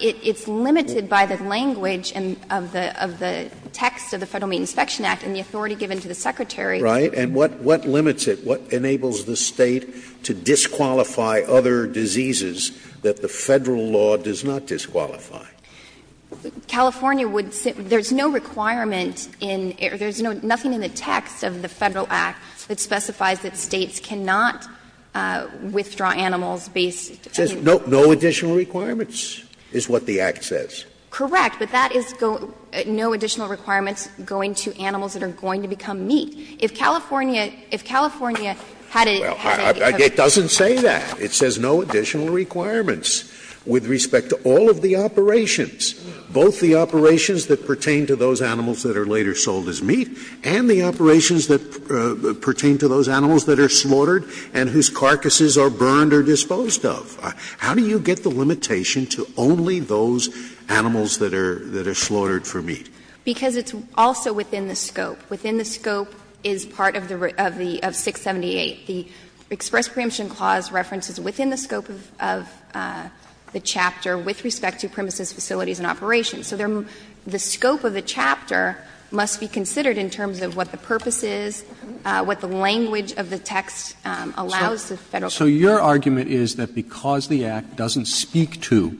It's limited by the language of the text of the Federal Meat Inspection Act and the authority given to the Secretary. Scalia, Right, and what limits it? What enables the State to disqualify other diseases that the Federal law does not disqualify? California would say there's no requirement in the text of the Federal Act that specifies that States cannot withdraw animals based on the law. Scalia, It says no additional requirements is what the Act says. Correct. But that is no additional requirements going to animals that are going to become meat. Both the operations that pertain to those animals that are later sold as meat and the operations that pertain to those animals that are slaughtered and whose carcasses are burned or disposed of. How do you get the limitation to only those animals that are slaughtered for meat? Because it's also within the scope. Within the scope is part of the 678. The express preemption clause references within the scope of the chapter with respect to premises, facilities, and operations. So the scope of the chapter must be considered in terms of what the purpose is, what the language of the text allows the Federal government to do. Roberts, so your argument is that because the Act doesn't speak to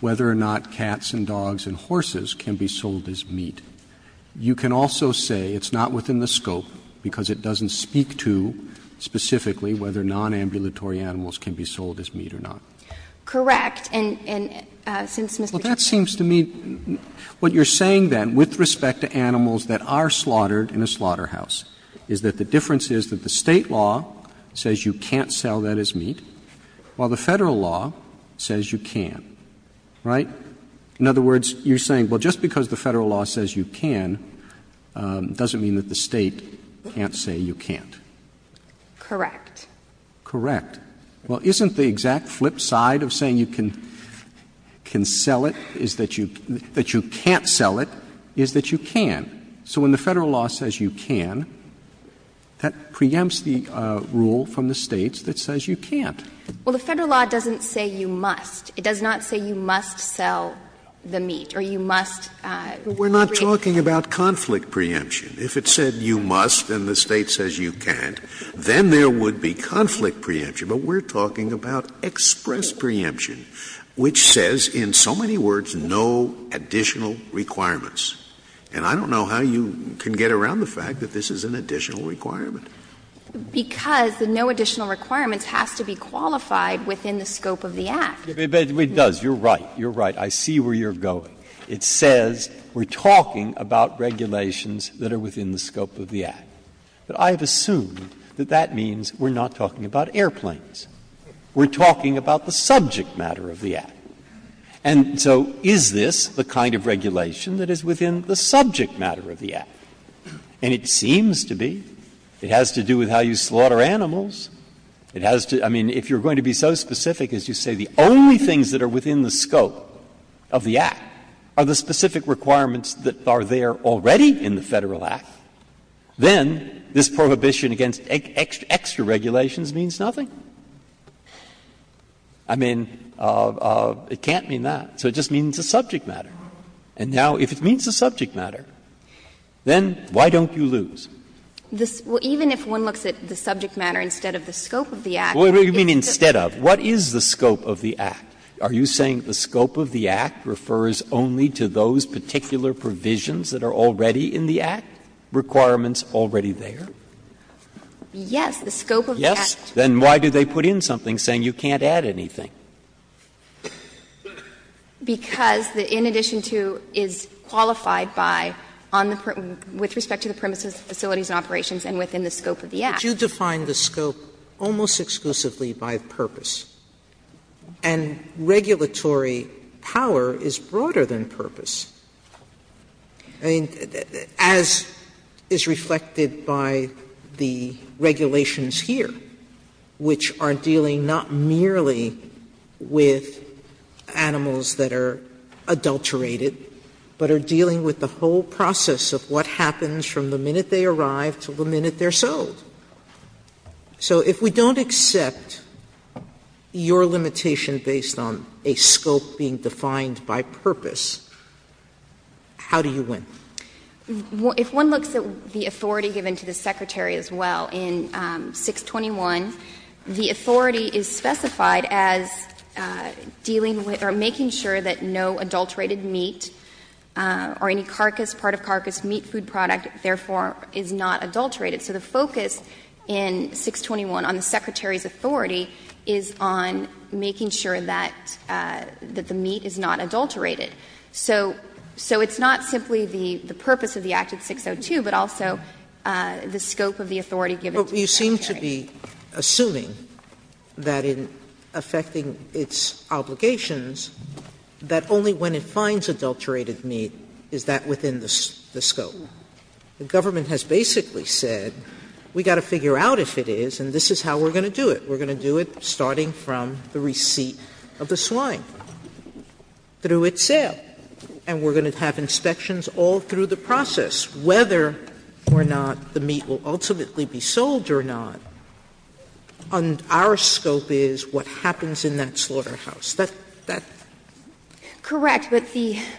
whether or not cats and dogs and horses can be sold as meat, you can also say it's not within the scope because it doesn't speak to specifically whether nonambulatory animals can be sold as meat or not. Correct. And since Mr. Chief Justice ---- Well, that seems to me what you're saying, then, with respect to animals that are slaughtered in a slaughterhouse is that the difference is that the State law says you can't sell that as meat, while the Federal law says you can, right? In other words, you're saying, well, just because the Federal law says you can doesn't mean that the State can't say you can't. Correct. Correct. Well, isn't the exact flip side of saying you can sell it is that you can't sell it, is that you can? So when the Federal law says you can, that preempts the rule from the States that says you can't. Well, the Federal law doesn't say you must. It does not say you must sell the meat or you must break the law. We're not talking about conflict preemption. If it said you must and the State says you can't, then there would be conflict preemption. But we're talking about express preemption, which says in so many words no additional requirements. And I don't know how you can get around the fact that this is an additional requirement. Because the no additional requirements has to be qualified within the scope of the Act. But it does. You're right. You're right. I see where you're going. It says we're talking about regulations that are within the scope of the Act. But I have assumed that that means we're not talking about airplanes. We're talking about the subject matter of the Act. And so is this the kind of regulation that is within the subject matter of the Act? And it seems to be. It has to do with how you slaughter animals. It has to be so specific as you say the only things that are within the scope of the Act are the specific requirements that are there already in the Federal Act. Then this prohibition against extra regulations means nothing. I mean, it can't mean that. So it just means it's a subject matter. And now if it means a subject matter, then why don't you lose? Well, even if one looks at the subject matter instead of the scope of the Act, it's a subject matter. What do you mean instead of? What is the scope of the Act? Are you saying the scope of the Act refers only to those particular provisions that are already in the Act? Requirements already there? Yes. The scope of the Act. Yes? Then why do they put in something saying you can't add anything? Because the in addition to is qualified by on the permits with respect to the premises, facilities and operations and within the scope of the Act. But you define the scope almost exclusively by purpose. And regulatory power is broader than purpose. I mean, as is reflected by the regulations here, which are dealing not merely with animals that are adulterated, but are dealing with the whole process of what happens from the minute they arrive to the minute they're sold. So if we don't accept your limitation based on a scope being defined by purpose, how do you win? If one looks at the authority given to the Secretary as well in 621, the authority is specified as dealing with or making sure that no adulterated meat or any carcass, part of carcass meat food product, therefore, is not adulterated. So the focus in 621 on the Secretary's authority is on making sure that the meat is not adulterated. So it's not simply the purpose of the Act of 602, but also the scope of the authority given to the Secretary. Sotomayor, you seem to be assuming that in affecting its obligations that only when it finds adulterated meat is that within the scope. The government has basically said, we've got to figure out if it is, and this is how we're going to do it. We're going to do it starting from the receipt of the swine, through its sale, and we're going to have inspections all through the process, whether or not the meat will ultimately be sold or not. And our scope is what happens in that slaughterhouse. That's the question.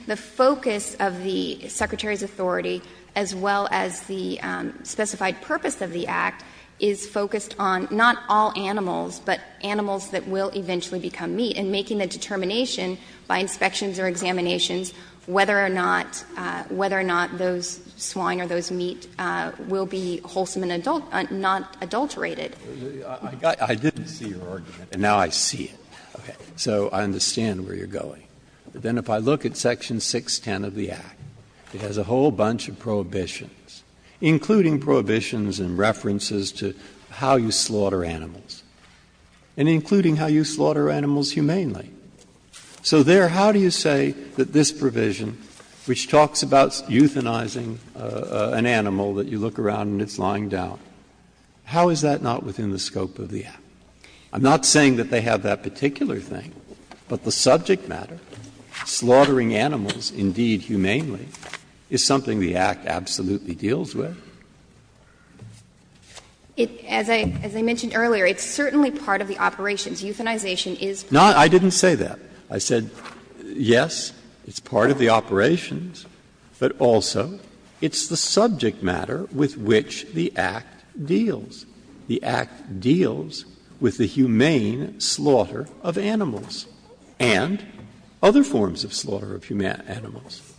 So the purpose of the Act is to make sure that the Secretary, as well as the specified purpose of the Act, is focused on not all animals, but animals that will eventually become meat, and making a determination by inspections or examinations whether or not those swine or those meat will be wholesome and not adulterated. Breyer, I didn't see your argument, and now I see it, so I understand where you're going. But then if I look at section 610 of the Act, it has a whole bunch of prohibitions, including prohibitions and references to how you slaughter animals, and including how you slaughter animals humanely. So there, how do you say that this provision, which talks about euthanizing an animal that you look around and it's lying down, how is that not within the scope of the Act? I'm not saying that they have that particular thing, but the subject matter, slaughtering animals, indeed, humanely, is something the Act absolutely deals with. As I mentioned earlier, it's certainly part of the operations. Euthanization is part of the operations. No, I didn't say that. I said, yes, it's part of the operations, but also it's the subject matter with which the Act deals. The Act deals with the humane slaughter of animals and other forms of slaughter of animals.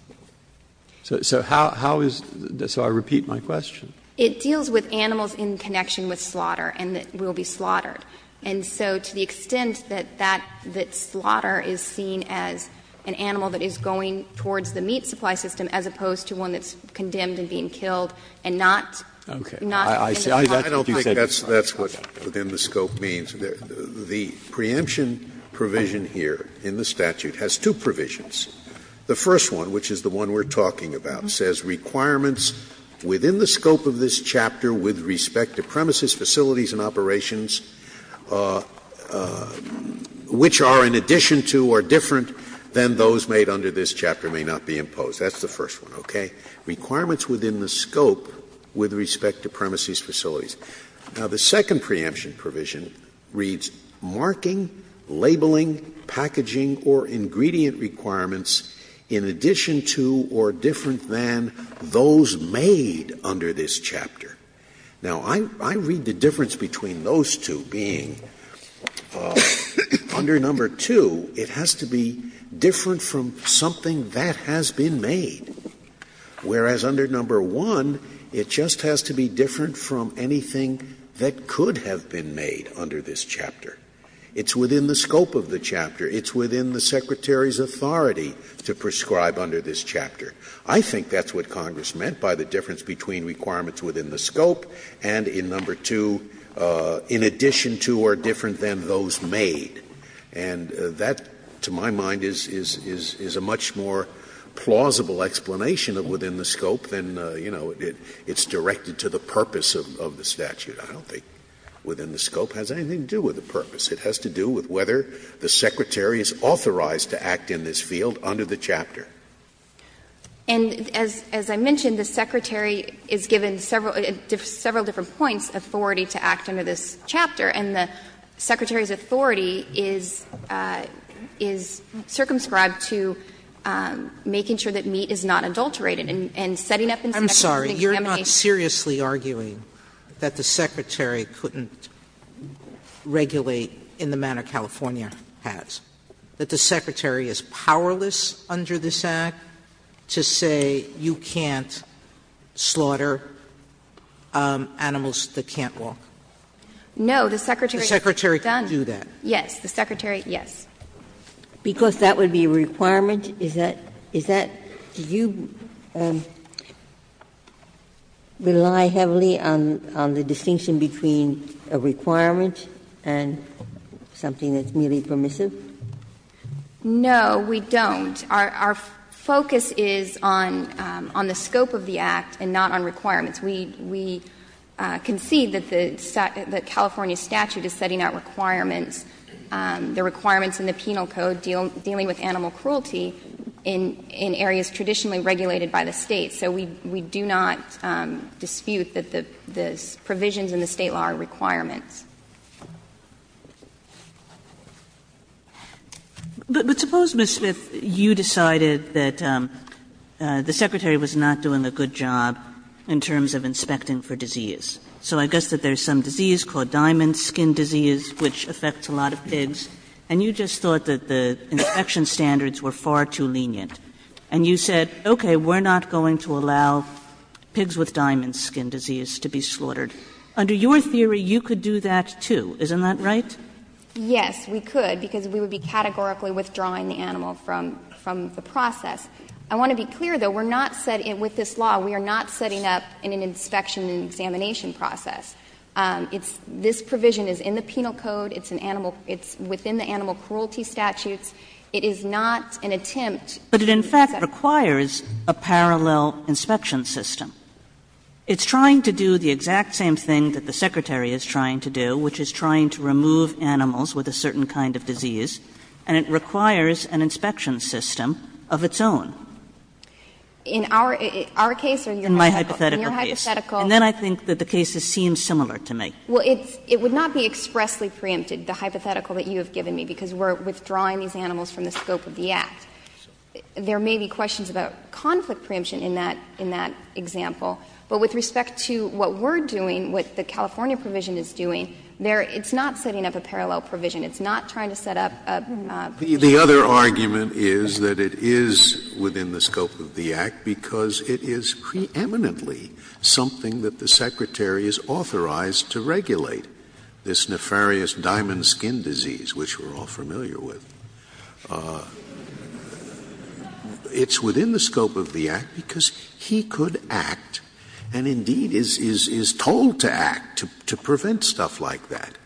So how is the so I repeat my question. It deals with animals in connection with slaughter and that will be slaughtered. And so to the extent that that, that slaughter is seen as an animal that is going towards the meat supply system, as opposed to one that's condemned and being killed and not. Okay. I see. I don't think that's what within the scope means. The preemption provision here in the statute has two provisions. The first one, which is the one we're talking about, says requirements within the scope of this chapter with respect to premises, facilities and operations, which are in addition to or different than those made under this chapter may not be imposed. That's the first one, okay? Requirements within the scope with respect to premises, facilities. Now, the second preemption provision reads, marking, labeling, packaging or ingredient requirements in addition to or different than those made under this chapter. Now, I read the difference between those two being under number two, it has to be different from something that has been made. Whereas under number one, it just has to be different from anything that could have been made under this chapter. It's within the scope of the chapter. It's within the Secretary's authority to prescribe under this chapter. I think that's what Congress meant by the difference between requirements within the scope and in number two, in addition to or different than those made. And that, to my mind, is a much more plausible explanation of within the scope than, you know, it's directed to the purpose of the statute. I don't think within the scope has anything to do with the purpose. It has to do with whether the Secretary is authorized to act in this field under the chapter. And as I mentioned, the Secretary is given several different points, authority to act under this chapter, and the Secretary's authority is circumscribed to making sure that meat is not adulterated and setting up inspections and examinations. Sotomayor I'm sorry, you're not seriously arguing that the Secretary couldn't regulate in the manner California has, that the Secretary is powerless under this act to say you can't slaughter animals that can't walk. No, the Secretary can't do that. Yes, the Secretary, yes. Because that would be a requirement, is that, is that, do you rely heavily on, on the distinction between a requirement and something that's merely permissive? No, we don't. Our focus is on, on the scope of the act and not on requirements. We, we concede that the California statute is setting out requirements, the requirements in the Penal Code dealing with animal cruelty in, in areas traditionally regulated by the State. So we, we do not dispute that the, the provisions in the State law are requirements. But suppose, Ms. Smith, you decided that the Secretary was not doing a good job in terms of inspecting for disease. So I guess that there's some disease called diamond skin disease which affects a lot of pigs. And you just thought that the inspection standards were far too lenient. And you said, okay, we're not going to allow pigs with diamond skin disease to be slaughtered. Under your theory, you could do that, too, isn't that right? Yes, we could, because we would be categorically withdrawing the animal from, from the process. I want to be clear, though, we're not setting, with this law, we are not setting up in an inspection and examination process. It's, this provision is in the Penal Code, it's an animal, it's within the animal cruelty statutes. It is not an attempt to set up. But it in fact requires a parallel inspection system. It's trying to do the exact same thing that the Secretary is trying to do, which is trying to remove animals with a certain kind of disease. And it requires an inspection system of its own. In our, our case or your hypothetical? In my hypothetical case. In your hypothetical. And then I think that the cases seem similar to me. Well, it's, it would not be expressly preempted, the hypothetical that you have given me, because we're withdrawing these animals from the scope of the Act. There may be questions about conflict preemption in that, in that example. But with respect to what we're doing, what the California provision is doing, there it's not setting up a parallel provision. It's not trying to set up a preemption. The other argument is that it is within the scope of the Act, because it is preeminently something that the Secretary is authorized to regulate, this nefarious diamond skin disease, which we're all familiar with. It's within the scope of the Act because he could act, and indeed is, is told to act, to prevent stuff like that.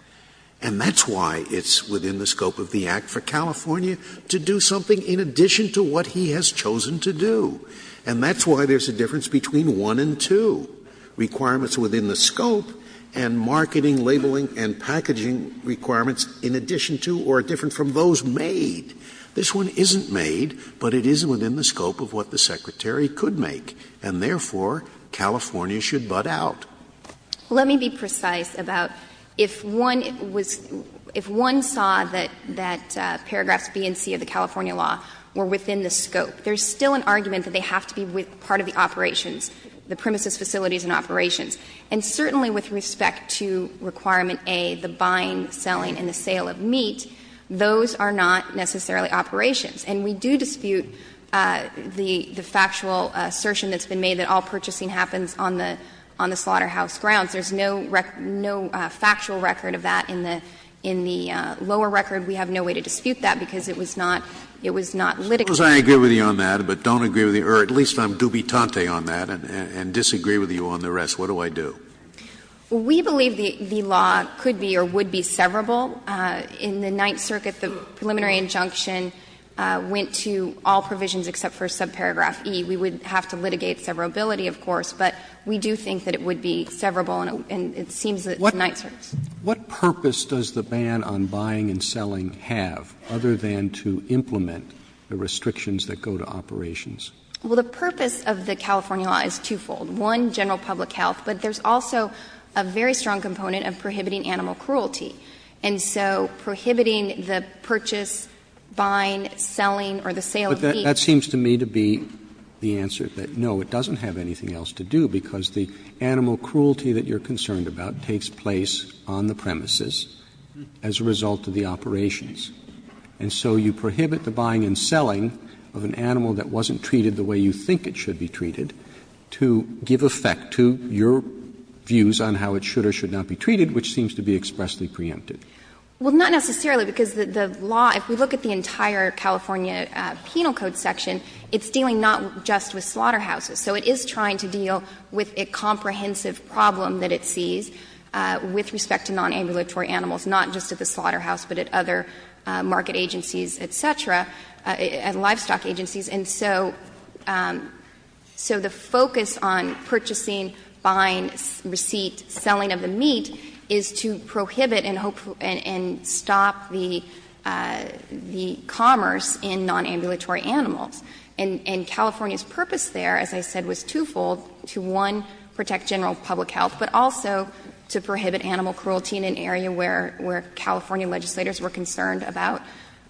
And that's why it's within the scope of the Act for California to do something in addition to what he has chosen to do. And that's why there's a difference between 1 and 2, requirements within the scope and marketing, labeling and packaging requirements in addition to or different from those made. This one isn't made, but it is within the scope of what the Secretary could make, and therefore, California should butt out. Let me be precise about if one was — if one saw that paragraphs B and C of the California law were within the scope, there's still an argument that they have to be part of the operations, the premises, facilities and operations. And certainly with respect to Requirement A, the buying, selling and the sale of meat, those are not necessarily operations. And we do dispute the factual assertion that's been made that all purchasing happens on the — on the slaughterhouse grounds. There's no factual record of that in the lower record. We have no way to dispute that because it was not litigated. Scalia. Suppose I agree with you on that, but don't agree with you — or at least I'm dubitante on that and disagree with you on the rest. What do I do? We believe the law could be or would be severable. In the Ninth Circuit, the preliminary injunction went to all provisions except for subparagraph E. We would have to litigate severability, of course, but we do think that it would be severable and it seems that the Ninth Circuit's. Roberts. What purpose does the ban on buying and selling have, other than to implement the restrictions that go to operations? Well, the purpose of the California law is twofold. One, general public health, but there's also a very strong component of prohibiting animal cruelty. And so prohibiting the purchase, buying, selling or the sale of meat. That seems to me to be the answer, that no, it doesn't have anything else to do, because the animal cruelty that you're concerned about takes place on the premises as a result of the operations. And so you prohibit the buying and selling of an animal that wasn't treated the way you think it should be treated to give effect to your views on how it should or should not be treated, which seems to be expressly preempted. Well, not necessarily, because the law, if we look at the entire California Penal Code section, it's dealing not just with slaughterhouses. So it is trying to deal with a comprehensive problem that it sees with respect to nonambulatory animals, not just at the slaughterhouse, but at other market agencies, et cetera, at livestock agencies. And so the focus on purchasing, buying, receipt, selling of the meat is to prohibit and stop the commerce in nonambulatory animals. And California's purpose there, as I said, was twofold, to, one, protect general public health, but also to prohibit animal cruelty in an area where California legislators were concerned about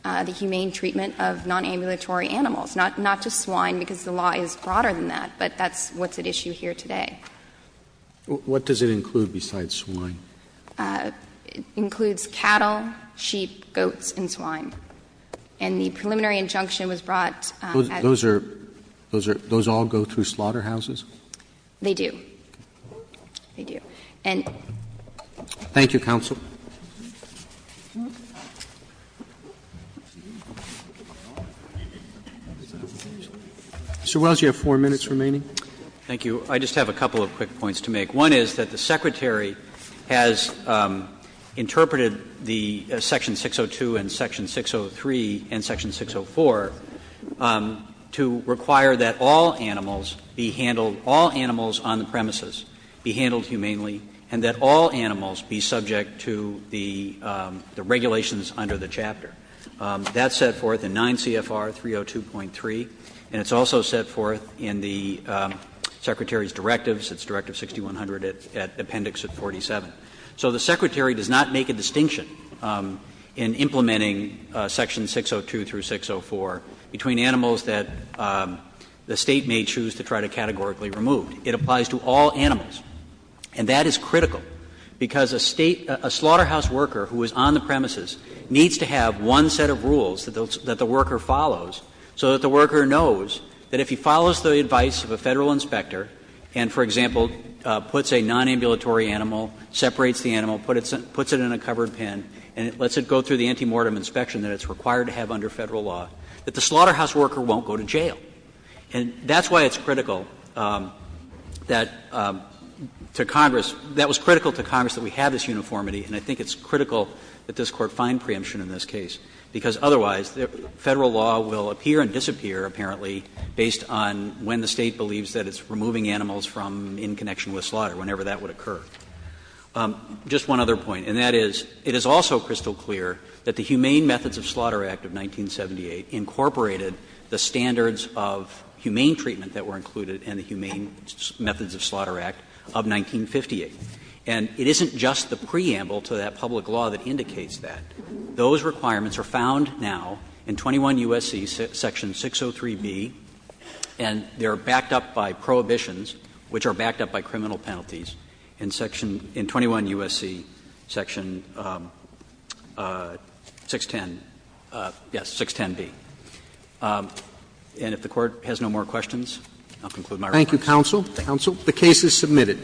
the humane treatment of nonambulatory animals, not just swine, because the law is broader than that, but that's what's at issue here today. What does it include besides swine? It includes cattle, sheep, goats, and swine. And the preliminary injunction was brought at the end of that. Those are — those all go through slaughterhouses? They do. They do. Thank you, counsel. Mr. Wells, you have four minutes remaining. Thank you. I just have a couple of quick points to make. One is that the Secretary has interpreted the Section 602 and Section 603 and Section 604 to require that all animals be handled — all animals on the premises be handled humanely and that all animals be subject to the regulations under the chapter. That's set forth in 9 CFR 302.3, and it's also set forth in the Secretary's directives, its Directive 6100 at Appendix 47. So the Secretary does not make a distinction in implementing Section 602 through 604 between animals that the State may choose to try to categorically remove. It applies to all animals, and that is critical, because a State — a slaughterhouse worker who is on the premises needs to have one set of rules that the worker follows so that the worker knows that if he follows the advice of a Federal inspector and, for example, puts a nonambulatory animal, separates the animal, puts it in a covered pen, and lets it go through the antemortem inspection that it's required to have under Federal law, that the slaughterhouse worker won't go to jail. And that's why it's critical that to Congress — that was critical to Congress that we have this uniformity, and I think it's critical that this Court find preemption in this case, because otherwise Federal law will appear and disappear, apparently, based on when the State believes that it's removing animals from in connection with slaughter, whenever that would occur. Just one other point, and that is, it is also crystal clear that the Humane Methods of Slaughter Act of 1978 incorporated the standards of humane treatment that were included in the Humane Methods of Slaughter Act of 1958. And it isn't just the preamble to that public law that indicates that. Those requirements are found now in 21 U.S.C. section 603B, and they are backed up by prohibitions, which are backed up by criminal penalties, in 21 U.S.C. section 610, yes, 610B. And if the Court has no more questions, I'll conclude my remarks. Roberts. Thank you, counsel. The case is submitted.